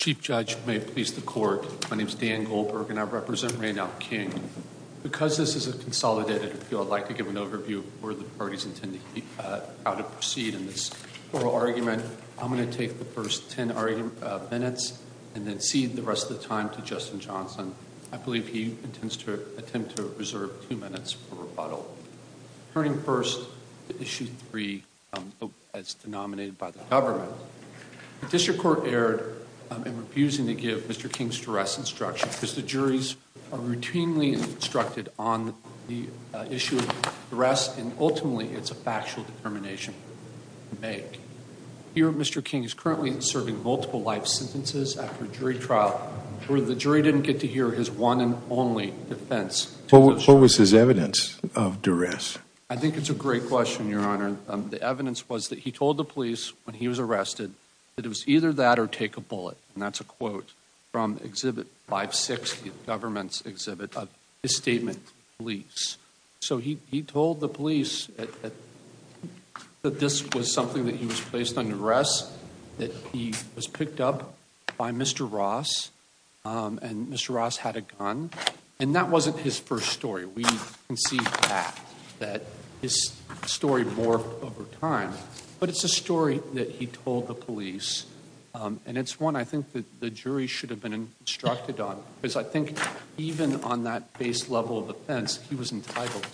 Chief Judge, may it please the Court, my name is Dan Goldberg and I represent Raynald King. Because this is a consolidated appeal, I'd like to give an overview of where the parties intend to proceed in this oral argument. I'm going to take the first ten minutes and then cede the rest of the time to Justin Johnson. I believe he intends to attempt to reserve two minutes for rebuttal. Turning first to issue three as denominated by the government, the District Court erred in refusing to give Mr. King's duress instruction because the juries are routinely instructed on the issue of duress and ultimately it's a factual determination to make. Here Mr. King is currently serving multiple life sentences after jury trial where the jury didn't get to hear his one and only defense. What was his evidence of duress? I think it's a great question, Your Honor. The evidence was that he told the police when he was arrested that it was either that or take a bullet and that's a quote from Exhibit 560, the government's exhibit of his statement to police. So he told the police that this was that he was placed under duress, that he was picked up by Mr. Ross and Mr. Ross had a gun and that wasn't his first story. We can see that his story morphed over time but it's a story that he told the police and it's one I think that the jury should have been instructed on because I think even on that base level of offense he was entitled.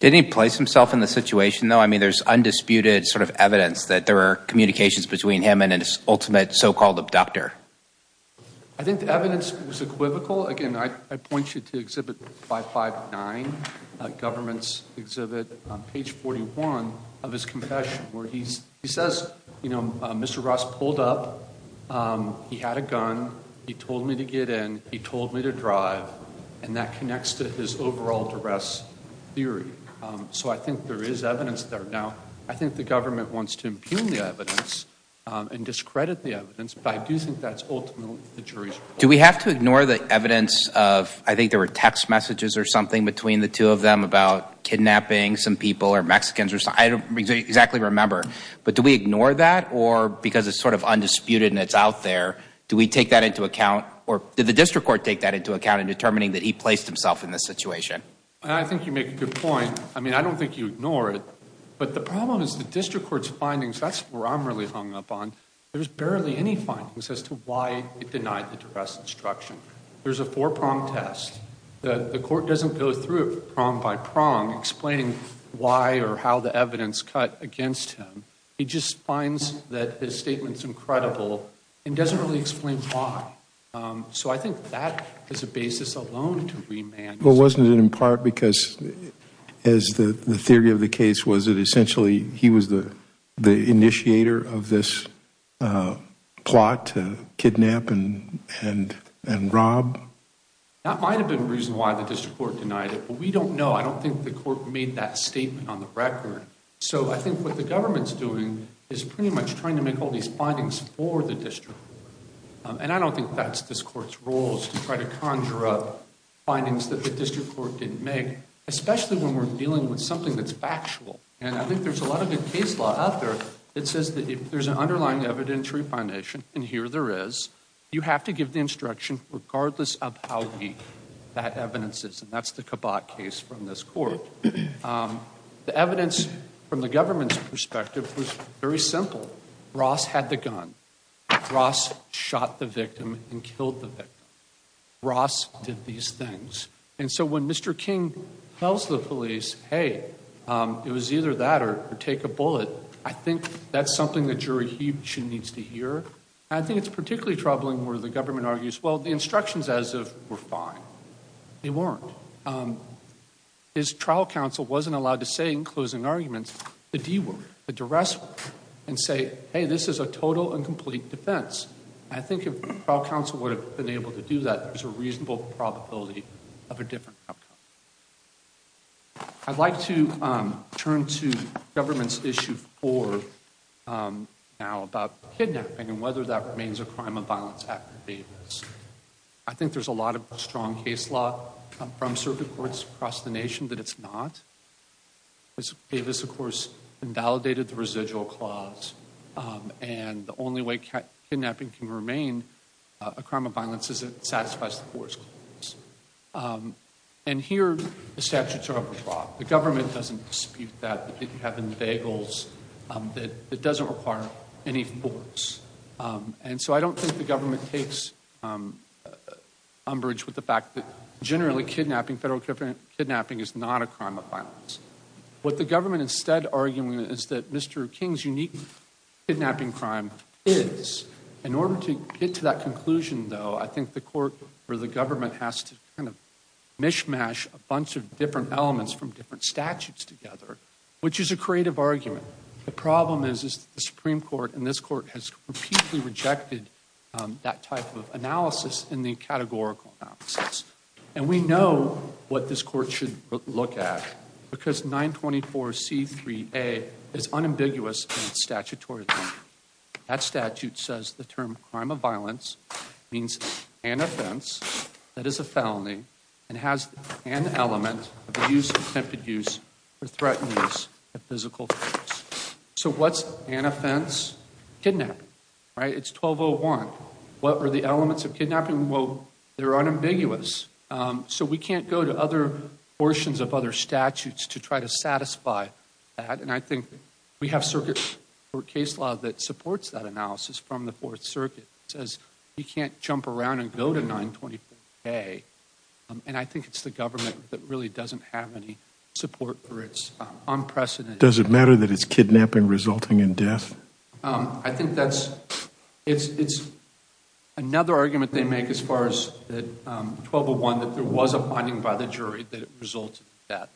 Did he place himself in the situation though? I mean there's undisputed sort of evidence that there are communications between him and his ultimate so-called abductor. I think the evidence was equivocal. Again I point you to Exhibit 559, government's exhibit on page 41 of his confession where he says you know Mr. Ross pulled up, he had a gun, he told me to get in, he told me to drive and that connects to his overall duress theory. So I think there is evidence there. Now I think the government wants to impugn the evidence and discredit the evidence but I do think that's ultimately the jury's fault. Do we have to ignore the evidence of I think there were text messages or something between the two of them about kidnapping some people or Mexicans or something? I don't exactly remember but do we ignore that or because it's sort of undisputed and it's out there do we take that into account or did the district court take that into account in determining that he placed himself in this situation? I think you make a good point. I mean I don't think you ignore it but the problem is the district court's findings that's where I'm really hung up on. There's barely any findings as to why he denied the duress instruction. There's a four-prong test that the court doesn't go through it prong by prong explaining why or how the evidence cut against him. He just finds that his statement's incredible and doesn't really explain why. So I think that is a basis alone to remand. But wasn't it in part because as the theory of the case was it essentially he was the the initiator of this plot to kidnap and rob? That might have been the reason why the district court denied it but we don't know. I don't think the court made that statement on the record. So I think what the district and I don't think that's this court's role is to try to conjure up findings that the district court didn't make especially when we're dealing with something that's factual. And I think there's a lot of good case law out there that says that if there's an underlying evidentiary foundation and here there is, you have to give the instruction regardless of how weak that evidence is and that's the Cabot case from this court. The evidence from the government's perspective was very simple. Ross had the gun. Ross shot the victim and killed the victim. Ross did these things. And so when Mr. King tells the police, hey it was either that or take a bullet, I think that's something the jury needs to hear. I think it's particularly troubling where the government argues well the instructions as of were fine. They weren't. His trial counsel wasn't allowed to say in closing arguments the D word, the duress word, and say hey this is a total and complete defense. I think if trial counsel would have been able to do that, there's a reasonable probability of a different outcome. I'd like to turn to government's issue four now about kidnapping and whether that remains a crime of violence after maintenance. I think there's a lot of Davis, of course, invalidated the residual clause and the only way kidnapping can remain a crime of violence is it satisfies the force clause. And here the statutes are overdrawn. The government doesn't dispute that. You have in the bagels that it doesn't require any force. And so I don't think the government takes umbrage with the fact that generally kidnapping, federal kidnapping, is not a crime of violence. What the government instead arguing is that Mr. King's unique kidnapping crime is. In order to get to that conclusion though, I think the court or the government has to kind of mishmash a bunch of different elements from different statutes together, which is a creative argument. The problem is the Supreme Court and this court has repeatedly rejected that type of analysis in the categorical analysis. And we know what this court should look at because 924C3A is unambiguous in its statutory. That statute says the term crime of violence means an offense that is a felony and has an element of the use of attempted or threatened use of physical force. So what's an offense? Kidnapping, right? It's 1201. What are the elements of kidnapping? Well, they're unambiguous. So we can't go to other portions of other statutes to try to satisfy that. And I think we have circuit court case law that supports that analysis from the Fourth Circuit. It says you can't jump around and go to 924K. And I think it's the government that really doesn't have any support for its unprecedented. Does it matter that it's kidnapping resulting in death? I think that's, it's another argument they make as far as that 1201, that there was a finding by the jury that it resulted in death.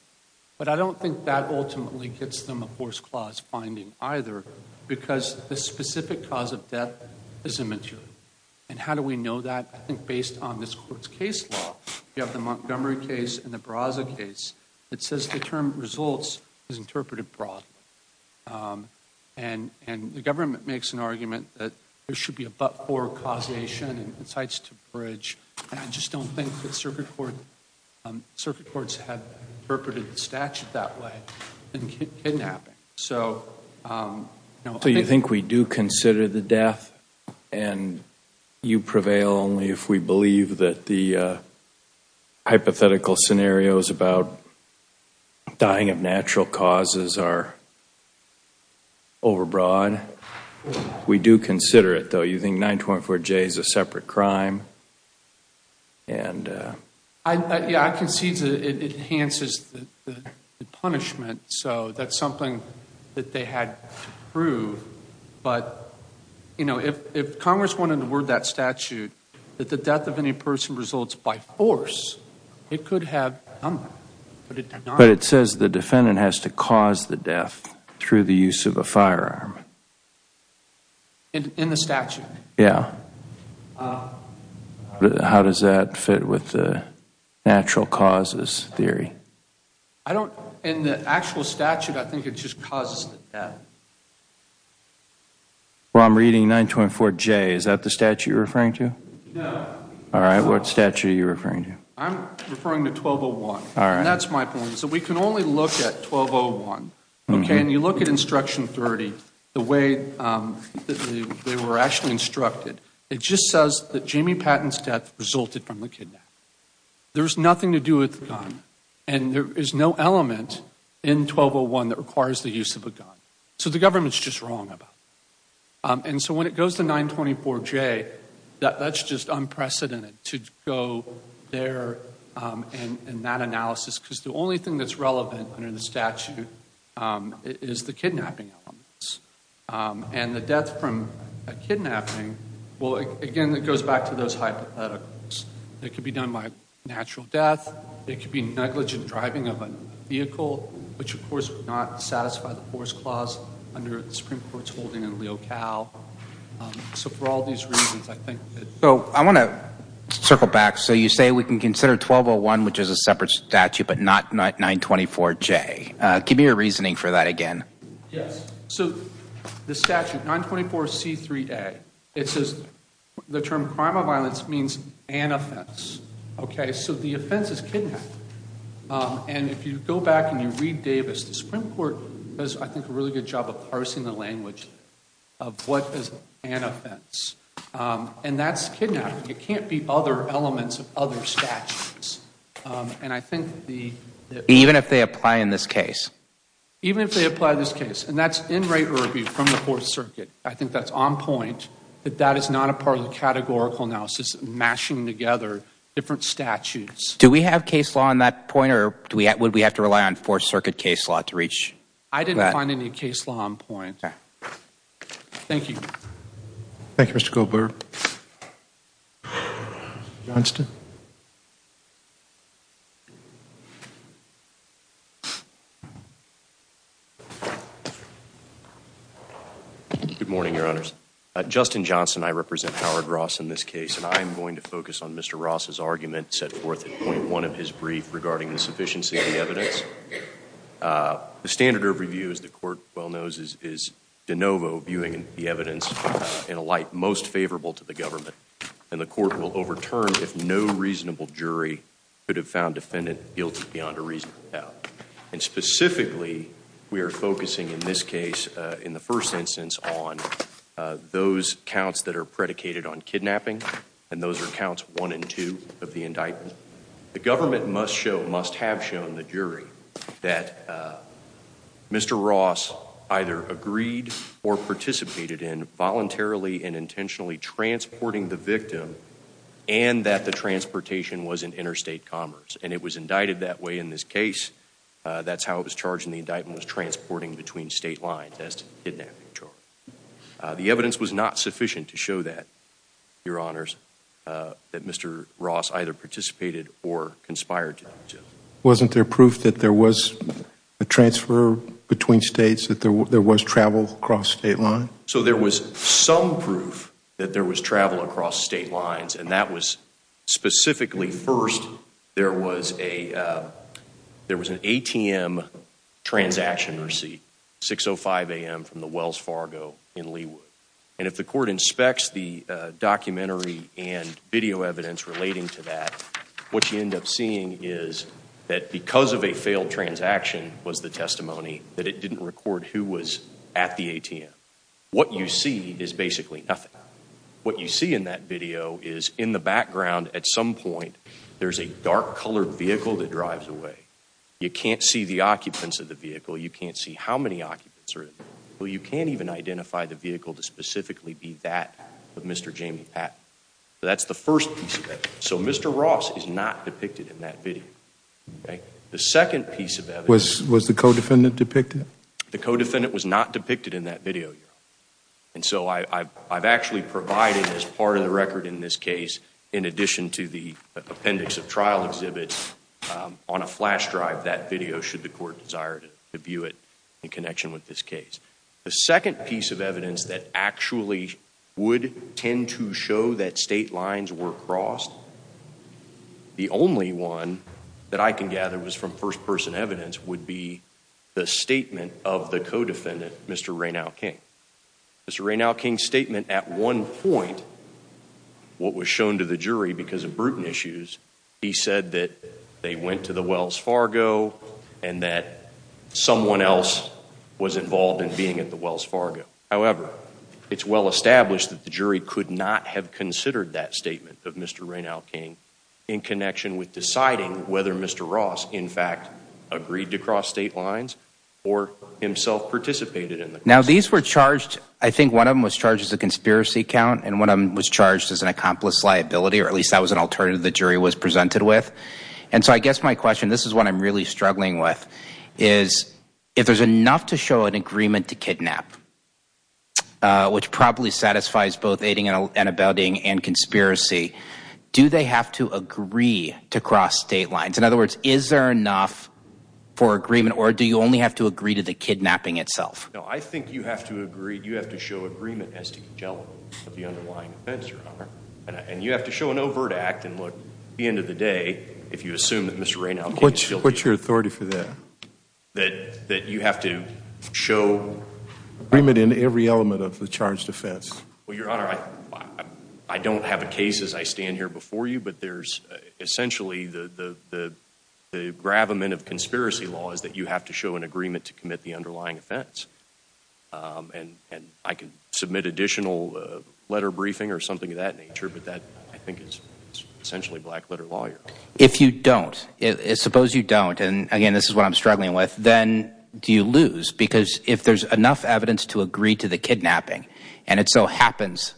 But I don't think that ultimately gets them a horse clause finding either because the specific cause of death is immature. And how do we know that? I think based on this court's case law, you have the Montgomery case and the Barraza case. It says the term results is interpreted broadly. And the government makes an argument that there should be a but-for causation and incites to bridge. And I just don't think that circuit court, circuit courts have interpreted the statute that way in kidnapping. So you think we do consider the death and you prevail only if we believe that the hypothetical scenarios about dying of natural causes are overbroad. We do consider it though. You think 924J is a separate crime? I concede that it enhances the punishment. So that's something that they had to prove. But, you know, if Congress wanted to word that statute that the death of any person results by force, it could have done that. But it says the defendant has to cause the death through the use of a firearm. In the statute? Yeah. How does that fit with the natural causes theory? I don't, in the actual statute, I think it just causes the death. Well, I'm reading 924J. Is that the statute you're referring to? No. All right. What statute are you referring to? I'm referring to 1201. All right. And that's my point. So we can only look at 1201, okay? And you look at Instruction 30, the way that they were actually instructed, it just says that Jamie Patton's death resulted from the kidnap. There's nothing to do with the gun. And there is no element in 1201 that requires the use of a gun. So the government's just wrong about that. And so when it goes to 924J, that's just unprecedented to go there and that analysis, because the only thing that's relevant under the statute is the kidnapping elements. And the death from a kidnapping, well, again, it goes back to those hypotheticals. It could be done by natural death. It could be negligent driving of a vehicle, which, of course, would not satisfy the Force Clause under the Supreme Court's holding in Leo Cal. So for all these reasons, I think that... So I want to circle back. So you say we can consider 1201, which is a separate statute, but not 924J. Give me a reasoning for that again. Yes. So the statute, 924C3A, it says the term crime of violence means an offense, okay? So the offense is kidnapping. And if you go back and you read Davis, the Supreme Court does, I think, a really good job of parsing the language of what is an offense. And that's kidnapping. It can't be other elements of other statutes. And I think the... Even if they apply in this case? Even if they apply this case. And that's in Ray Irby from the Fourth Circuit. I think that's on point, that that is not a part of the categorical analysis, mashing together different statutes. Do we have case law on that point, or would we have to rely on Fourth Circuit case law to reach that? I didn't find any case law on point. Okay. Thank you. Thank you, Mr. Goldberger. Mr. Johnston? Good morning, Your Honors. Justin Johnston. I represent Howard Ross in this case, and I am going to focus on Mr. Ross's argument set forth in point one of his brief regarding the sufficiency of the evidence. The standard of review, as the Court well knows, is de novo, viewing the evidence in a light most favorable to the government. And the Court will overturn if no reasonable jury could have found defendant guilty beyond a reasonable doubt. And specifically, we are focusing in this case, in the first instance, on those counts that are predicated on kidnapping, and those are counts one and two of the indictment. The government must have shown the jury that Mr. Ross either agreed or participated in voluntarily and intentionally transporting the victim, and that the transportation was in interstate commerce. And it was indicted that way in this case. That's how it was charged in the indictment, was transporting between state lines as to the kidnapping charge. The evidence was not sufficient to show that, Your Honors, that Mr. Ross either participated or conspired to. Wasn't there proof that there was a transfer between states, that there was travel across state lines? So there was some proof that there was travel across state lines, and that was specifically, first, there was an ATM transaction receipt, 6.05 a.m. from the Wells Fargo in Leawood. And if the Court inspects the documentary and video evidence relating to that, what you end up seeing is that because of a failed transaction was the testimony that it didn't record who was at the ATM. What you see is basically nothing. What you see in that video is in the background at some point, there's a dark colored vehicle that many occupants are in. Well, you can't even identify the vehicle to specifically be that of Mr. Jamie Patton. So that's the first piece of evidence. So Mr. Ross is not depicted in that video. The second piece of evidence... Was the co-defendant depicted? The co-defendant was not depicted in that video, Your Honor. And so I've actually provided as part of the record in this case, in addition to the appendix of trial exhibits, on a flash drive, that video should the Court desire to view it in connection with this case. The second piece of evidence that actually would tend to show that state lines were crossed, the only one that I can gather was from first-person evidence, would be the statement of the co-defendant, Mr. Raynaud King. Mr. Raynaud King's statement at one point, what was shown to the jury because of Bruton issues, he said that they went to the someone else was involved in being at the Wells Fargo. However, it's well established that the jury could not have considered that statement of Mr. Raynaud King in connection with deciding whether Mr. Ross, in fact, agreed to cross state lines or himself participated in the... Now these were charged, I think one of them was charged as a conspiracy count and one of them was charged as an accomplice liability, or at least that was an alternative the jury was presented with. And so I guess my question, this is what I'm really struggling with, is if there's enough to show an agreement to kidnap, which probably satisfies both aiding and abetting and conspiracy, do they have to agree to cross state lines? In other words, is there enough for agreement or do you only have to agree to the kidnapping itself? No, I think you have to agree, you have to show agreement as to the general of the underlying offense, your honor, and you have to show an if you assume that Mr. Raynaud... What's your authority for that? That you have to show agreement in every element of the charged offense. Well, your honor, I don't have a case as I stand here before you, but there's essentially the gravamen of conspiracy law is that you have to show an agreement to commit the underlying offense. And I can submit additional letter briefing or something of that nature, but that I think is essentially black letter lawyer. If you don't, suppose you don't, and again, this is what I'm struggling with, then do you lose? Because if there's enough evidence to agree to the kidnapping, and it so happens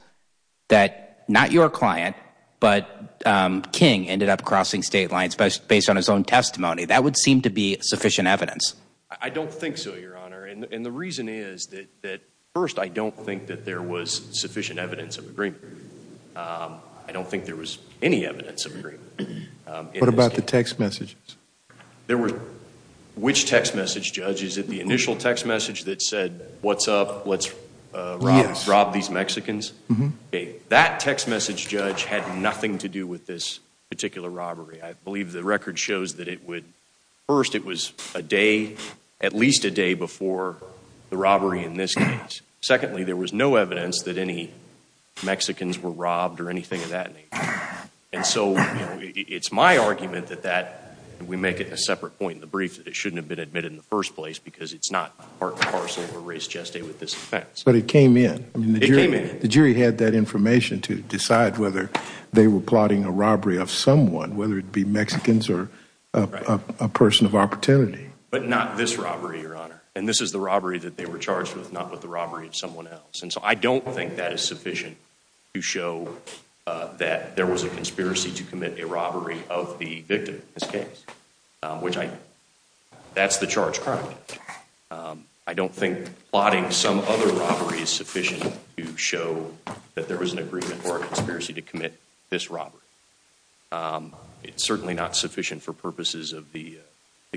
that not your client, but King ended up crossing state lines based on his own testimony, that would seem to be sufficient evidence. I don't think so, your honor. And the reason is that first, I don't think that there was sufficient evidence of agreement. I don't think there was any evidence of agreement. What about the text messages? There were... Which text message, judge? Is it the initial text message that said, what's up, let's rob these Mexicans? That text message, judge, had nothing to do with this particular robbery. I believe the record shows that it would... First, it was a day, at least a robbery in this case. Secondly, there was no evidence that any Mexicans were robbed or anything of that nature. And so, it's my argument that that, we make it a separate point in the brief, that it shouldn't have been admitted in the first place because it's not part and parcel of a race geste with this offense. But it came in. It came in. The jury had that information to decide whether they were plotting a robbery of someone, whether it'd be Mexicans or a person of opportunity. But not this robbery, your honor. And this is the robbery that they were charged with, not with the robbery of someone else. And so, I don't think that is sufficient to show that there was a conspiracy to commit a robbery of the victim in this case, which I... That's the charge. I don't think plotting some other robbery is sufficient to show that there was an agreement for a conspiracy to commit this robbery. It's certainly not sufficient for purposes of the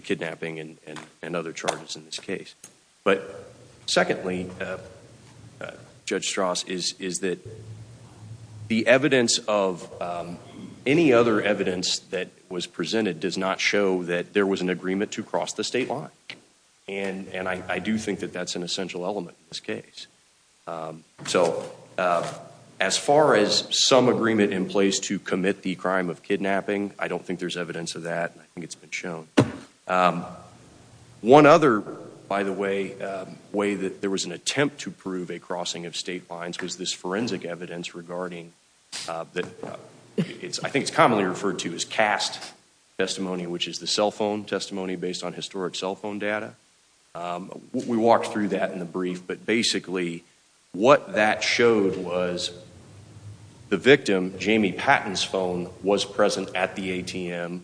kidnapping and other charges in this case. But secondly, Judge Strauss, is that the evidence of any other evidence that was presented does not show that there was an agreement to cross the state line. And I do think that that's an essential element in this case. So, as far as some agreement in place to commit the crime of kidnapping, I don't think there's evidence of that. I think it's been shown. One other, by the way, way that there was an attempt to prove a crossing of state lines was this forensic evidence regarding... I think it's commonly referred to as cast testimony, which is the cell phone testimony based on historic cell phone data. We walked through that in the brief. But basically, what that showed was the victim, Jamie Patton's phone, was present at the ATM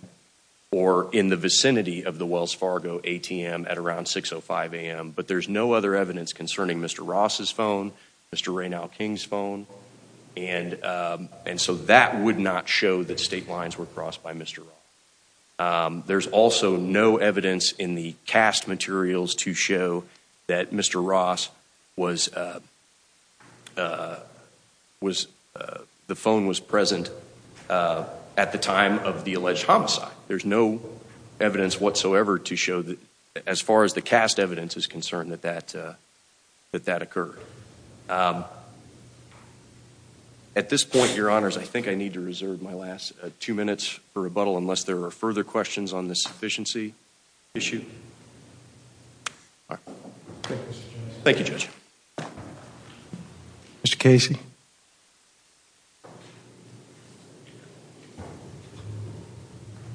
or in the vicinity of the Wells Fargo ATM at around 6.05 a.m. But there's no other evidence concerning Mr. Ross's phone, Mr. Raynell King's phone, and so that would not show that state lines were crossed by Mr. Ross. There's also no evidence in the cast materials to show that Mr. Ross was... the phone was present at the time of the alleged homicide. There's no evidence whatsoever to show that, as far as the cast evidence is concerned, that that occurred. At this point, Your Honors, I think I need to reserve my last two minutes for rebuttal unless there are further questions on this sufficiency issue. Thank you, Judge. Mr. Casey.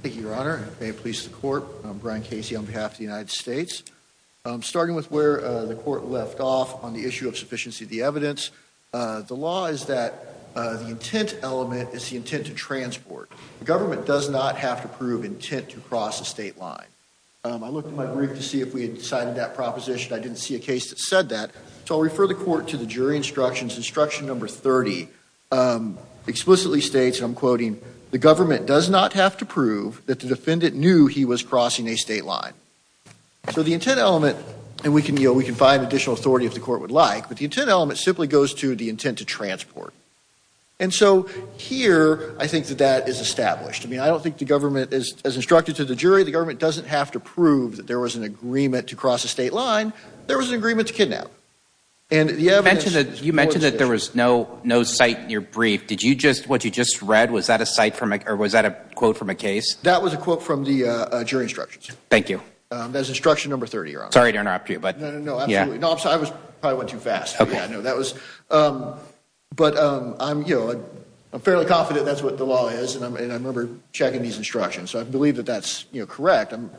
Thank you, Your Honor. May it please the Court, I'm Brian Casey on behalf of the United States. Starting with where the Court left off on the issue of sufficiency of the evidence, the law is that the intent element is the intent to transport. The government does not have to prove intent to cross a state line. I looked at my brief to see if we had decided that proposition. I didn't see a case that said that, so I'll refer the Court to the jury instructions. Instruction number 30 explicitly states, and I'm quoting, the government does not have to prove that the defendant knew he was crossing a state line. So the intent element, and we can, you know, we can find additional authority if the Court would like, but the intent element simply goes to the intent to transport. And so here, I think that that is established. I mean, I don't think the government, as instructed to the jury, the government doesn't have to prove that there was agreement to cross a state line. There was an agreement to kidnap. You mentioned that there was no, no cite in your brief. Did you just, what you just read, was that a cite from a, or was that a quote from a case? That was a quote from the jury instructions. Thank you. That's instruction number 30, Your Honor. Sorry to interrupt you, but. No, no, no, absolutely. I probably went too fast. Okay. But I'm, you know, I'm fairly confident that's what the law is, and I remember checking these instructions, so I believe that that's, you know, correct. I'm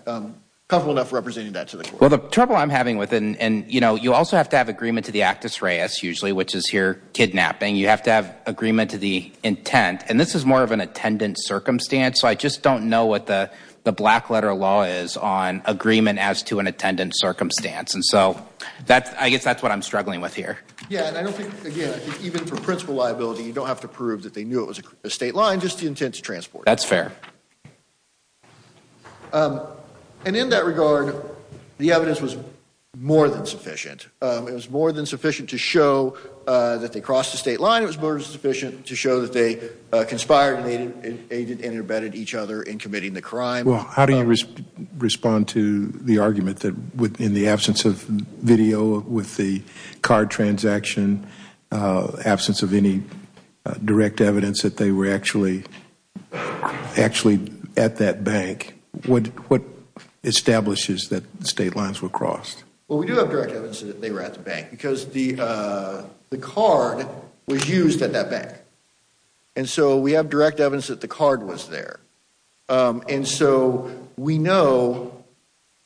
comfortable enough representing that to the Court. Well, the trouble I'm having with it, and, you know, you also have to have agreement to the actus reus, usually, which is here, kidnapping. You have to have agreement to the intent, and this is more of an attendant circumstance, so I just don't know what the the black letter law is on agreement as to an attendant circumstance. And so, that's, I guess that's what I'm struggling with here. Yeah, and I don't think, again, even for principal liability, you don't have to prove that they knew it was a state line, just the intent to transport. That's fair. And in that regard, the evidence was more than sufficient. It was more than sufficient to show that they crossed the state line. It was more than sufficient to show that they conspired and aided and abetted each other in committing the crime. Well, how do you respond to the argument that in the absence of video with the car transaction, absence of any direct evidence that they were actually actually at that bank, what establishes that the state lines were crossed? Well, we do have direct evidence that they were at the bank because the card was used at that bank. And so, we have direct evidence that the card was there. And so, we know.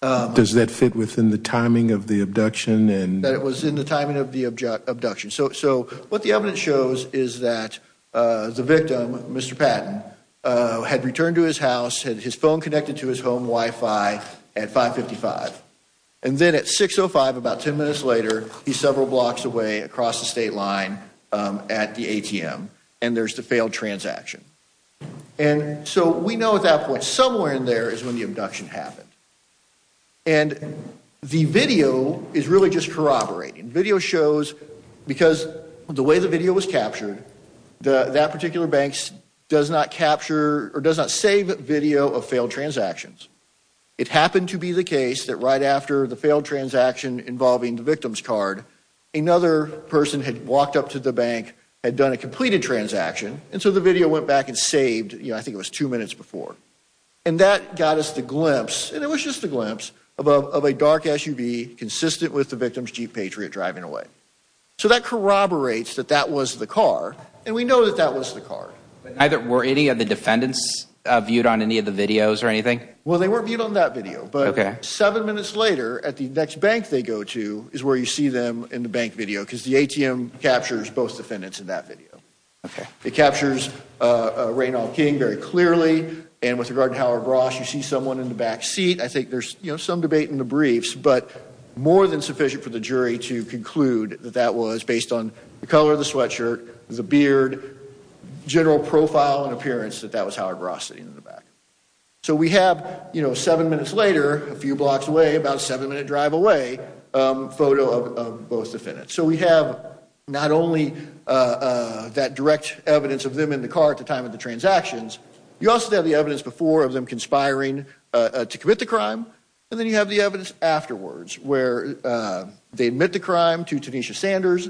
Does that fit within the timing of the abduction? That it was in the timing of the abduction. So, what the evidence shows is that the victim, Mr. Patton, had returned to his house, had his phone connected to his home Wi-Fi at 555. And then at 605, about 10 minutes later, he's several blocks away across the state line at the ATM, and there's the failed transaction. And so, we know at that point, somewhere in there is when the abduction happened. And the video is really just corroborating. Video shows, because the way the video was captured, that particular bank does not capture or does not save video of failed transactions. It happened to be the case that right after the failed transaction involving the victim's card, another person had walked up to the bank, had done a completed transaction. And so, the video went back and saved, you know, I think it was two minutes before. And that got us the glimpse, and it was just a glimpse, of a dark SUV consistent with the victim's Jeep Patriot driving away. So, that corroborates that that was the car, and we know that that was the car. Were any of the defendants viewed on any of the videos or anything? Well, they weren't viewed on that video. But seven minutes later, at the next bank they go to is where you see them in the bank video, because the ATM captures both defendants in that video. Okay. It captures Raynald King very clearly, and with regard to Howard Ross, you see someone in the back seat. I think there's, you know, some debate in the briefs, but more than sufficient for the jury to conclude that that was, based on the color of the sweatshirt, the beard, general profile and appearance, that that was Howard Ross sitting in the back. So, we have, you know, seven minutes later, a few blocks away, about a seven minute drive away, photo of both defendants. So, we have not only that direct evidence of them in the car at the time of the transactions, you also have the evidence before of them conspiring to commit the crime, and then you have the evidence afterwards, where they admit the crime to Tanisha Sanders,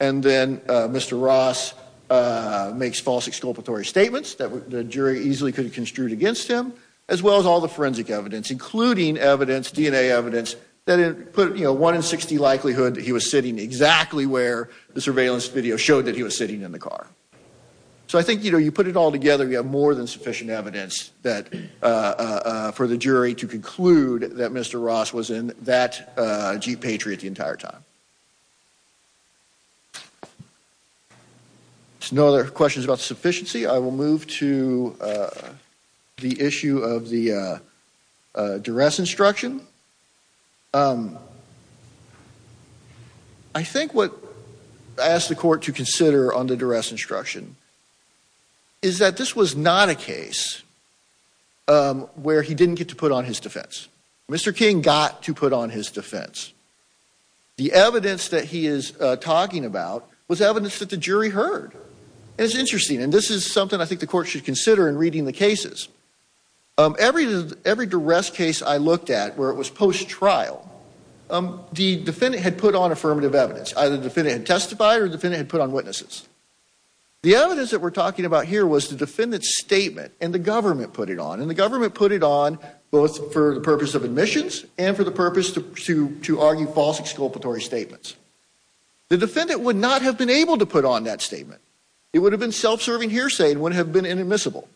and then Mr. Ross makes false exculpatory statements that the jury easily could have construed against him, as well as all the forensic evidence, including evidence, DNA evidence, that it put, you know, one in 60 likelihood he was sitting exactly where the surveillance video showed that he was sitting in the car. So, I think, you know, you put it all together, you have more than sufficient evidence that, for the jury to conclude that Mr. Ross was in that Jeep Patriot the entire time. There's no other questions about sufficiency. I will move to the issue of the duress instruction. I think what I asked the court to consider on the duress instruction is that this was not a case where he didn't get to put on his defense. Mr. King got to put on his defense. The evidence that he is talking about was evidence that the jury heard. And it's interesting, and this is something I think the court should consider in reading the cases. Every duress case I looked at, where it was post-trial, the defendant had put on affirmative evidence. Either the defendant had testified, or the defendant had put on witnesses. The evidence that we're talking about here was the defendant's statement, and the government put it on. And the government put it on both for the purpose of admissions, and for the purpose to argue false exculpatory statements. The defendant would not have been able to put on that statement. It would have been self-serving hearsay. It wouldn't have been inadmissible.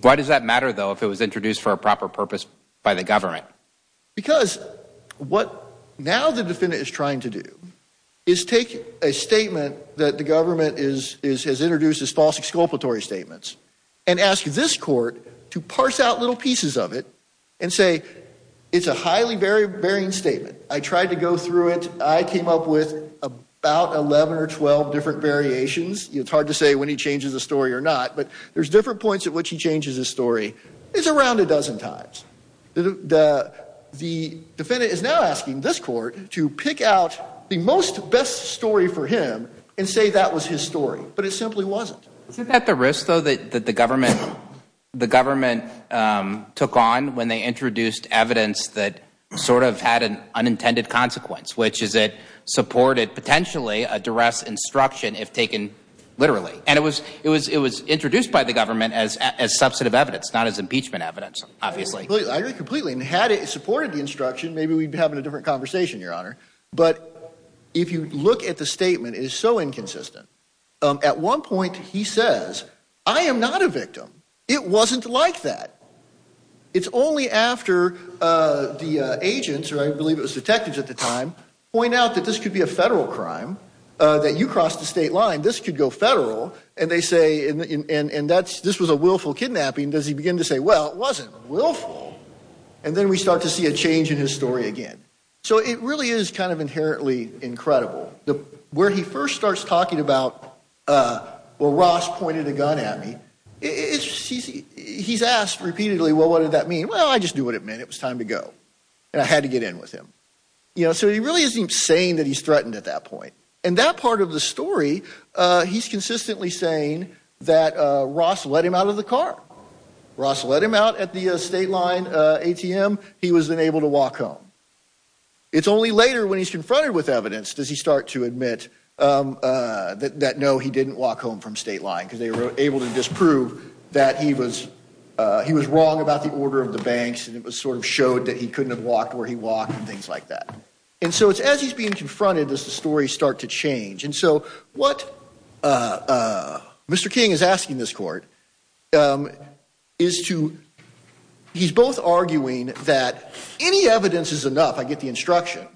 Why does that matter, though, if it was introduced for a proper purpose by the government? Because what now the defendant is trying to do is take a statement that the government has introduced as false exculpatory statements, and ask this court to parse out little pieces of it, and say it's a highly varying statement. I tried to go through it. I came up with about 11 or 12 different variations. It's hard to say when he changes the story or not, but there's different points at which he changes his story. It's around a dozen times. The defendant is now asking this court to pick out the most best story for him, and say that was his story. But it simply wasn't. Isn't that the risk, though, that the government took on when they introduced evidence that sort of had an unintended consequence, which is it supported potentially a duress instruction if taken literally? It was introduced by the government as substantive evidence, not as impeachment evidence, obviously. I agree completely. Had it supported the instruction, maybe we'd be having a different conversation, Your Honor. But if you look at the statement, it is so inconsistent. At one point, he says, I am not a victim. It wasn't like that. It's only after the agents, or I believe it was detectives at the time, point out that this could be a federal crime, that you crossed the state line. This could go federal. And they say, and this was a willful kidnapping. Does he begin to say, well, it wasn't willful. And then we start to see a change in his attitude. He's asked repeatedly, well, what did that mean? Well, I just knew what it meant. It was time to go. And I had to get in with him. So he really isn't saying that he's threatened at that point. In that part of the story, he's consistently saying that Ross let him out of the car. Ross let him out at the state line ATM. He was then able to walk home. It's only later when he's confronted with evidence does he start to admit that no, he didn't walk home from state line because they were able to disprove that he was wrong about the order of the banks. And it sort of showed that he couldn't have walked where he walked and things like that. And so it's as he's being confronted, does the story start to change? And so what Mr. King is asking this court is to, he's both arguing that any evidence is enough. I get the instruction.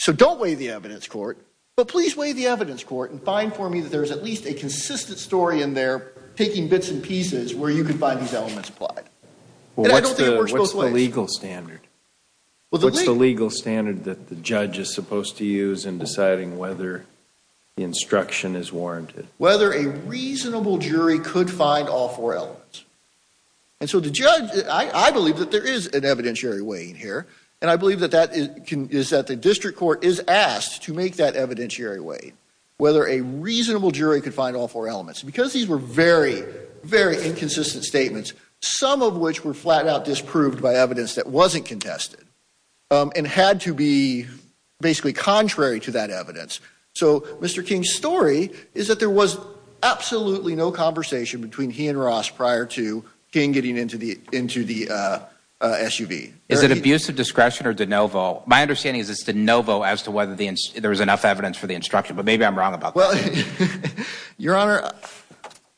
So don't weigh the evidence court, but please weigh the evidence court and find for me that there's at least a consistent story in there, taking bits and pieces where you can find these elements applied. What's the legal standard? What's the legal standard that the judge is supposed to use in deciding whether the instruction is warranted? Whether a reasonable jury could find all four elements. And so the judge, I believe that there is an evidentiary way in here. And I believe that that is that the district court is asked to make that evidentiary way, whether a reasonable jury could find all four elements because these were very, very inconsistent statements. Some of which were flat out disproved by evidence that wasn't contested and had to be basically contrary to that evidence. So Mr. King's story is that there was absolutely no conversation between he and Ross prior to King getting into the SUV. Is it abuse of discretion or de novo? My understanding is it's de novo as to whether there was enough evidence for the instruction, but maybe I'm wrong about that. Your Honor,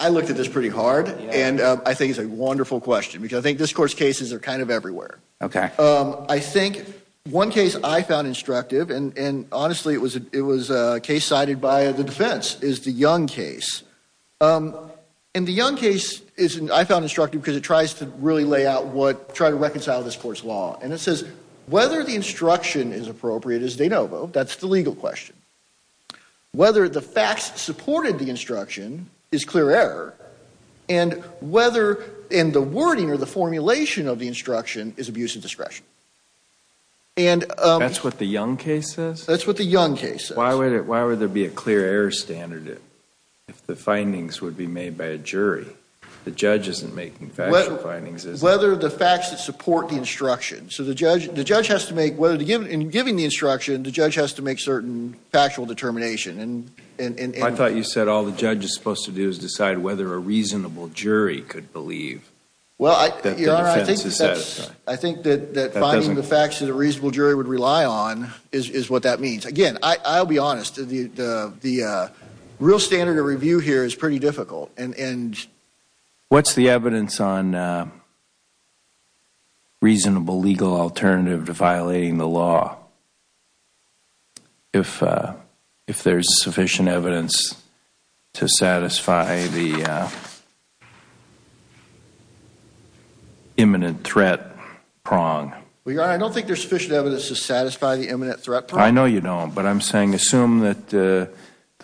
I looked at this pretty hard and I think it's a wonderful question because I think this court's cases are kind of everywhere. I think one case I found instructive and honestly it was a case cited by the defense is the Young case. And the Young case is, I found instructive because it tries to really lay out what, try to reconcile this court's law. And it says whether the instruction is appropriate is de novo. That's the legal question. Whether the facts supported the instruction is clear error. And whether, and the wording or the formulation of the instruction is abuse of discretion. And that's what the Young case says? That's what the Young case says. Why would it, why would there be a clear error standard if the findings would be made by a jury? The judge isn't making factual findings. Whether the facts that support the instruction. So the judge, the judge has to make, whether to give, in giving the instruction, the judge has to make certain factual determination. And I thought you said all the judge is supposed to do is decide whether a reasonable jury could believe that the defense is set. I think that finding the facts that a reasonable jury would believe. The real standard of review here is pretty difficult. And what's the evidence on reasonable legal alternative to violating the law? If, if there's sufficient evidence to satisfy the imminent threat prong. I don't think there's sufficient evidence to satisfy the imminent threat prong. I know you don't, but I'm saying assume that the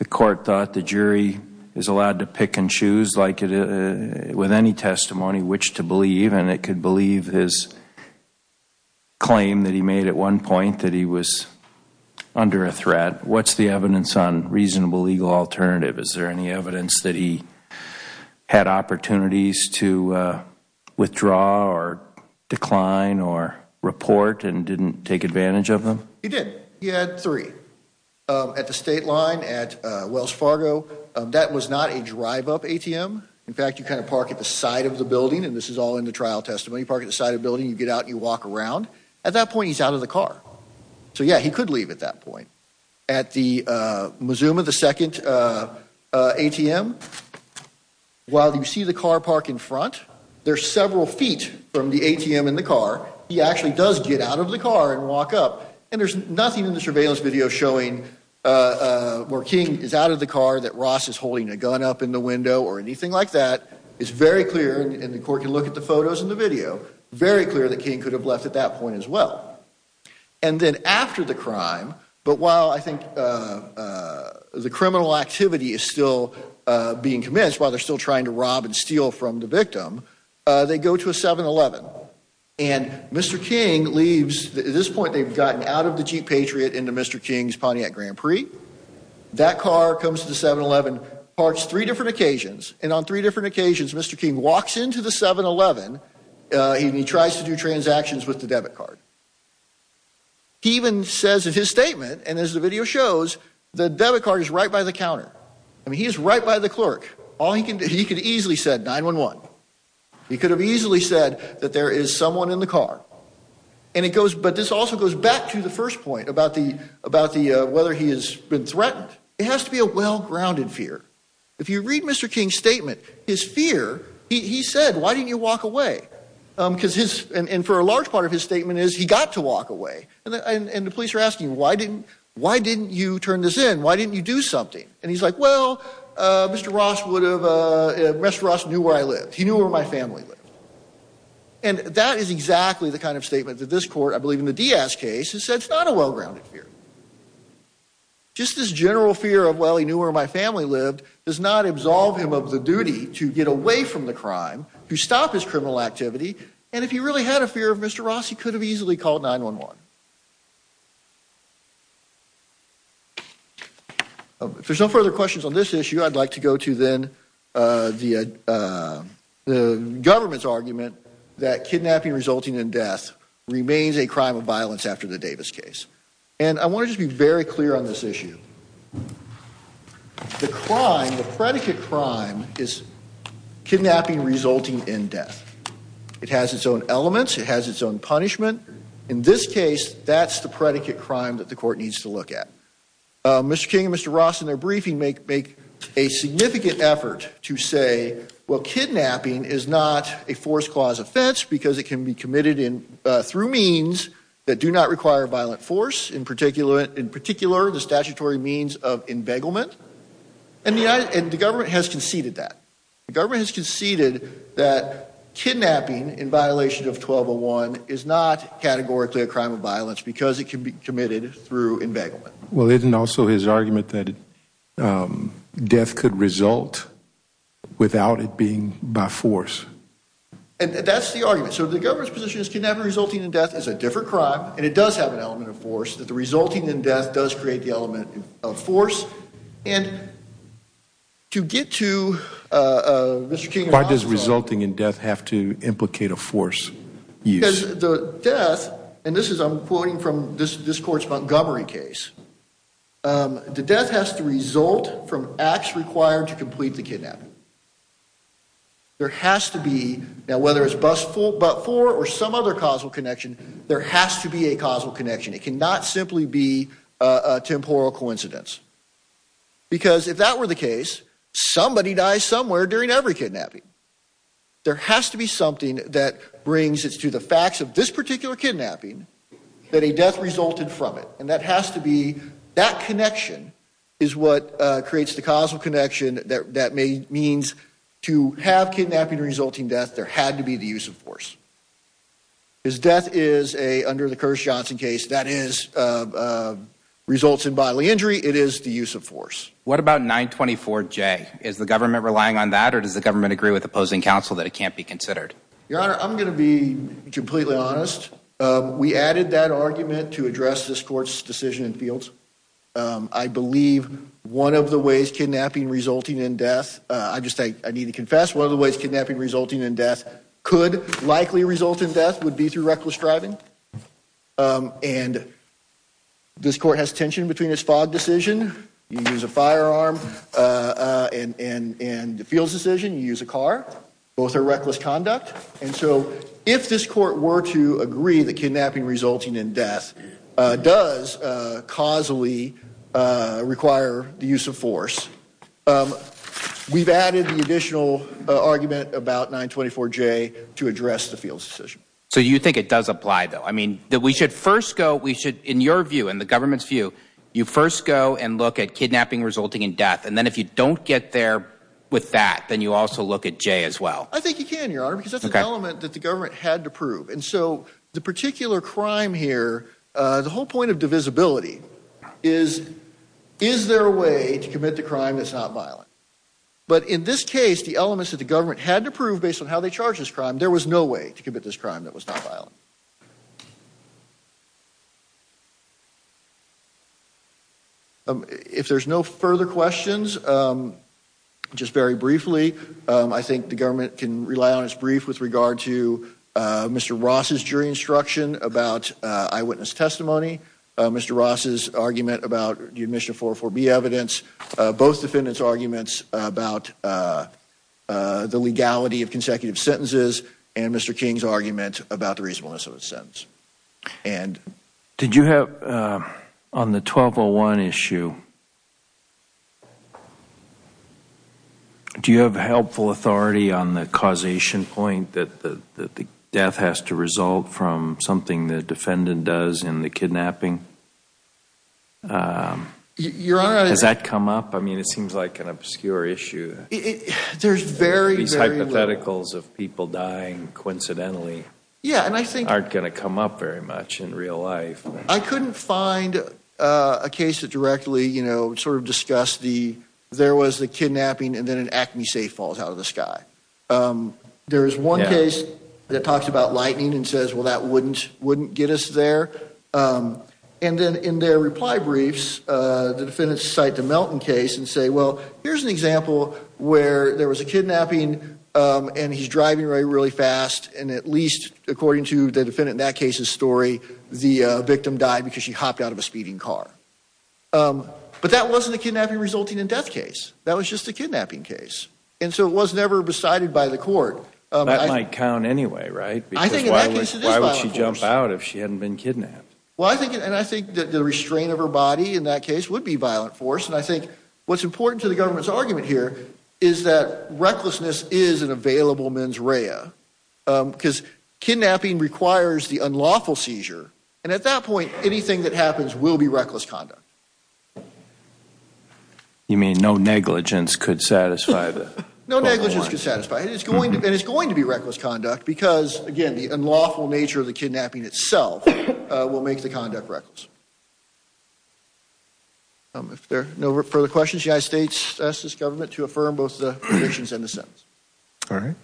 court thought the jury is allowed to pick and choose like it, with any testimony, which to believe. And it could believe his claim that he made at one point that he was under a threat. What's the evidence on reasonable legal alternative? Is there any evidence that he had opportunities to withdraw or decline or report and didn't take advantage of them? He did. He had three at the state line at Wells Fargo. That was not a drive up ATM. In fact, you kind of park at the side of the building and this is all in the trial testimony park at the side of the building. You get out, you walk around at that point, he's out of the car. So yeah, he could leave at that point at the Mazuma, the second ATM. While you see the car park in front, there's several feet from the ATM in the car. He actually does get out of the car and walk up and there's nothing in the surveillance video showing where King is out of the car that Ross is holding a gun up in the window or anything like that. It's very clear and the court can look at the photos and the video, very clear that King could have left at that point as well. And then after the crime, but while I think the criminal activity is still being commenced while they're still trying to rob and steal from the victim, they go to a 7-Eleven and Mr. King leaves. At this point, they've gotten out of the Jeep Patriot into Mr. King's Pontiac Grand Prix. That car comes to the 7-Eleven, parks three different occasions and on three different occasions, Mr. King walks into the 7-Eleven and he tries to do transactions with the debit card. He even says in his statement and as the video shows, the debit card is right by the clerk. He could have easily said 9-1-1. He could have easily said that there is someone in the car. But this also goes back to the first point about whether he has been threatened. It has to be a well-grounded fear. If you read Mr. King's statement, his fear, he said, why didn't you walk away? And for a large part of his statement is, he got to walk away. And the police are asking, why didn't you turn this in? Why didn't you do something? And he's like, well, Mr. Ross would have, Mr. Ross knew where I lived. He knew where my family lived. And that is exactly the kind of statement that this court, I believe in the Diaz case, has said it's not a well-grounded fear. Just this general fear of, well, he knew where my family lived, does not absolve him of the duty to get away from the crime, to stop his criminal activity. And if he really had a fear of Mr. Ross, he could have easily called 9-1-1. If there's no further questions on this issue, I'd like to go to then the government's argument that kidnapping resulting in death remains a crime of violence after the Davis case. And I want to just be very clear on this issue. The crime, the predicate crime is kidnapping resulting in death. It has its own elements. It has its own punishment. In this case, that's the predicate crime that the court needs to look at. Mr. King and Mr. Ross in their briefing make a significant effort to say, well, kidnapping is not a force clause offense because it can be committed through means that do not require violent force, in particular, the statutory means of embegglement. And the government has conceded that. The government has conceded that kidnapping in categorically a crime of violence because it can be committed through embegglement. Well, isn't also his argument that death could result without it being by force? And that's the argument. So the government's position is kidnapping resulting in death is a different crime. And it does have an element of force that the resulting in death does create the element of force. And to get to Mr. King and Mr. Ross... Why does resulting in death have to implicate a force use? Because the death, and this is I'm quoting from this court's Montgomery case, the death has to result from acts required to complete the kidnapping. There has to be, now, whether it's but for or some other causal connection, there has to be a causal connection. It cannot simply be a temporal coincidence. Because if that were the case, somebody dies somewhere during every kidnapping. There has to be something that brings us to the facts of this particular kidnapping, that a death resulted from it. And that has to be, that connection is what creates the causal connection that means to have kidnapping resulting death, there had to be the use of force. Because death is a, under the Curtis Johnson case, that is, results in bodily injury. It is the use of force. What about 924J? Is the government relying on that, or does the government agree with opposing counsel that it can't be considered? Your Honor, I'm going to be completely honest. We added that argument to address this court's decision in fields. I believe one of the ways kidnapping resulting in death, I just, I need to confess, one of the ways kidnapping resulting in death could likely result in death would be reckless driving. And this court has tension between this FOD decision, you use a firearm, and the fields decision, you use a car. Both are reckless conduct. And so, if this court were to agree that kidnapping resulting in death does causally require the use of force, we've added the additional argument about 924J to address the fields decision. So you think it does apply, though? I mean, that we should first go, we should, in your view, in the government's view, you first go and look at kidnapping resulting in death. And then if you don't get there with that, then you also look at J as well. I think you can, Your Honor, because that's an element that the government had to prove. And so, the particular crime here, the whole point of divisibility is, is there a way to commit the crime that's not violent? But in this case, the elements that the government had to prove based on how they charge this crime, there was no way to commit this crime that was not violent. If there's no further questions, just very briefly, I think the government can rely on its brief with regard to Mr. Ross's jury instruction about eyewitness testimony, Mr. Ross's argument about the admission of 404B evidence, both defendants' arguments about the legality of consecutive sentences and Mr. King's argument about the reasonableness of the sentence. Did you have, on the 1201 issue, do you have helpful authority on the causation point that the death has to result from something the defendant does in the kidnapping? Has that come up? I mean, it seems like an obscure issue. There's very, very... These hypotheticals of people dying coincidentally... Yeah, and I think... Aren't going to come up very much in real life. I couldn't find a case that directly, you know, sort of discussed the, there was the kidnapping and then an acne safe falls out of the sky. There is one case that talks about lightning and says, well, that wouldn't, wouldn't get us there. And then in their reply briefs, the defendants cite a Melton case and say, well, here's an example where there was a kidnapping and he's driving really, really fast. And at least according to the defendant in that case's story, the victim died because she hopped out of a speeding car. But that wasn't a kidnapping resulting in death case. That was just a kidnapping case. And so it was never decided by the court. That might count anyway, right? Because why would she jump out if she hadn't been kidnapped? Well, I think, and I think that the restraint of her body in that case would be violent force. And I think what's important to the government's argument here is that recklessness is an available mens rea, because kidnapping requires the unlawful seizure. And at that point, anything that happens will be reckless conduct. You mean no negligence could satisfy the... No negligence could satisfy it. It's going to, and it's going to be reckless conduct because again, the unlawful nature of the kidnapping itself will make the conduct reckless. If there are no further questions, the United States asks this government to affirm both the predictions and the sentence. All right.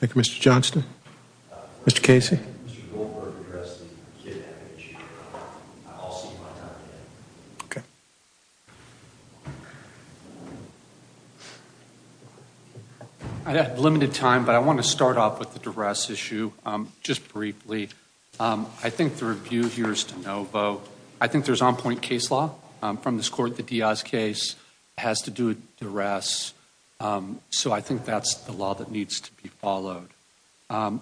Thank you, Mr. Johnston. Mr. Casey. I have limited time, but I want to start off with the duress issue just briefly. I think the review here is to no vote. I think there's on point case law from this court. The Diaz case has to do with duress. So I think that's the law that needs to be followed.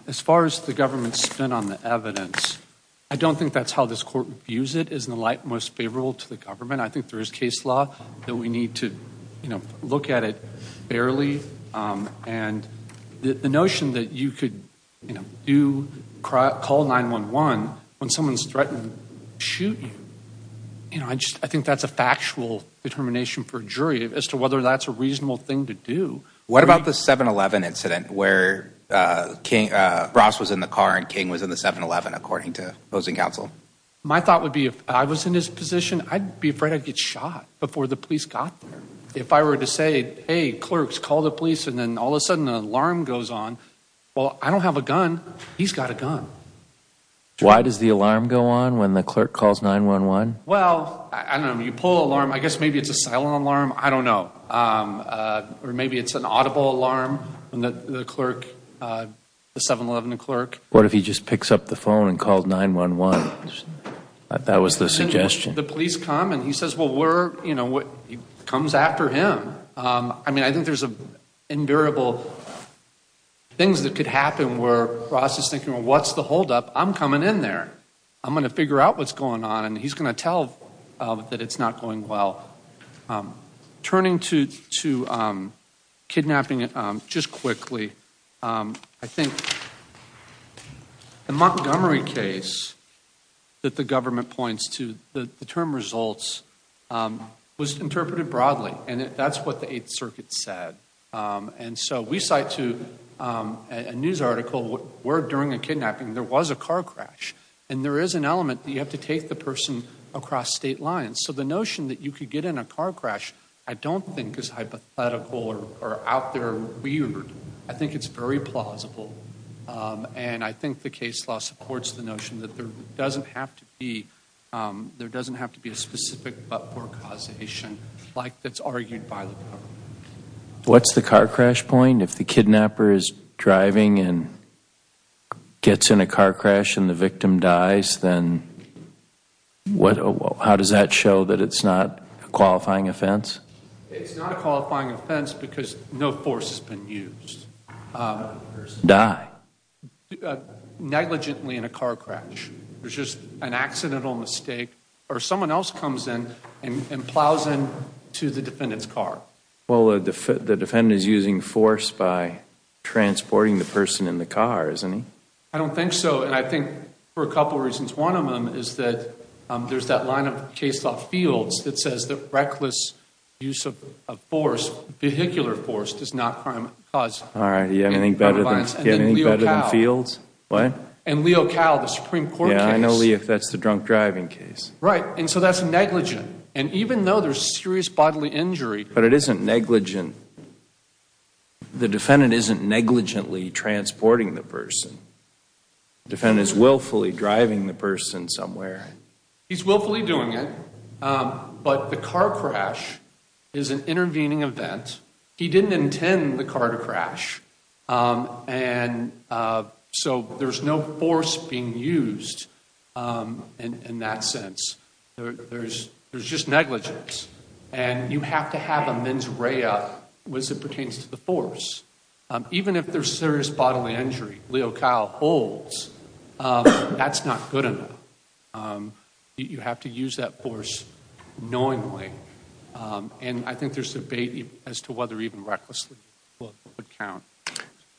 As far as the government's spin on the evidence, I don't think that's how this court views it, isn't the light most favorable to the government. I think there is case law that we need to look at it fairly. And the notion that you could call 911 when someone's threatened to shoot you. I think that's a factual determination for a jury as to whether that's a reasonable thing to do. What about the 7-11 incident where Ross was in the car and King was in the 7-11, according to opposing counsel? My thought would be if I was in his position, I'd be afraid I'd get shot before the police got there. If I were to say, hey, clerks, call the police. And then all of a sudden an alarm goes on. Well, I don't have a gun. He's got a gun. Why does the alarm go on when the clerk calls 911? Well, I don't know. You pull alarm. I guess maybe it's a audible alarm, the 7-11 clerk. What if he just picks up the phone and called 911? That was the suggestion. The police come and he says, well, we're, you know, he comes after him. I mean, I think there's invariable things that could happen where Ross is thinking, well, what's the holdup? I'm coming in there. I'm going to figure out what's going on. And he's going to tell that it's not going well. Turning to kidnapping just quickly, I think the Montgomery case that the government points to, the term results, was interpreted broadly. And that's what the 8th Circuit said. And so we cite to a news article where during a kidnapping there was a car crash. And there is an element that you have to take the person across state lines. So the notion that you could get in a car crash I don't think is hypothetical or out there weird. I think it's very plausible. And I think the case law supports the notion that there doesn't have to be, there doesn't have to be a specific but-for causation like that's argued by the government. What's the car crash point? If the kidnapper is driving and gets in a car crash and the victim dies, then how does that show that it's not a qualifying offense? It's not a qualifying offense because no force has been used. Die? Negligently in a car crash. There's just an accidental mistake. Or someone else comes in and plows into the defendant's car. Well, the defendant is using force by transporting the person in the car, isn't he? I don't think so. And I think for a couple of reasons. One of them is that there's that line of case law fields that says that reckless use of force, vehicular force, does not crime cause. All right. You have anything better than fields? What? In Leo Cowell, the Supreme Court case. Yeah, I know if that's the drunk driving case. Right. And so that's negligent. And even though there's serious bodily injury. But it isn't negligent. The defendant isn't negligently transporting the person. The defendant is willfully driving the person somewhere. He's willfully doing it. But the car crash is an intervening event. He didn't intend the car to crash. And so there's no force being used in that sense. There's just negligence. And you have to have a mens rea as it pertains to the force. Even if there's serious bodily injury, Leo Cowell holds, that's not good enough. You have to use that force knowingly. And I think there's debate as to whether even recklessly would count.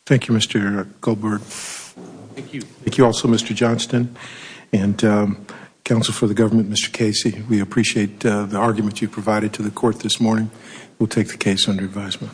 Thank you, Mr. Goldberg. Thank you. Thank you also, Mr. Johnston and counsel for the government, Mr. Casey. We appreciate the argument you provided to the court this morning. We'll take the case under advisement.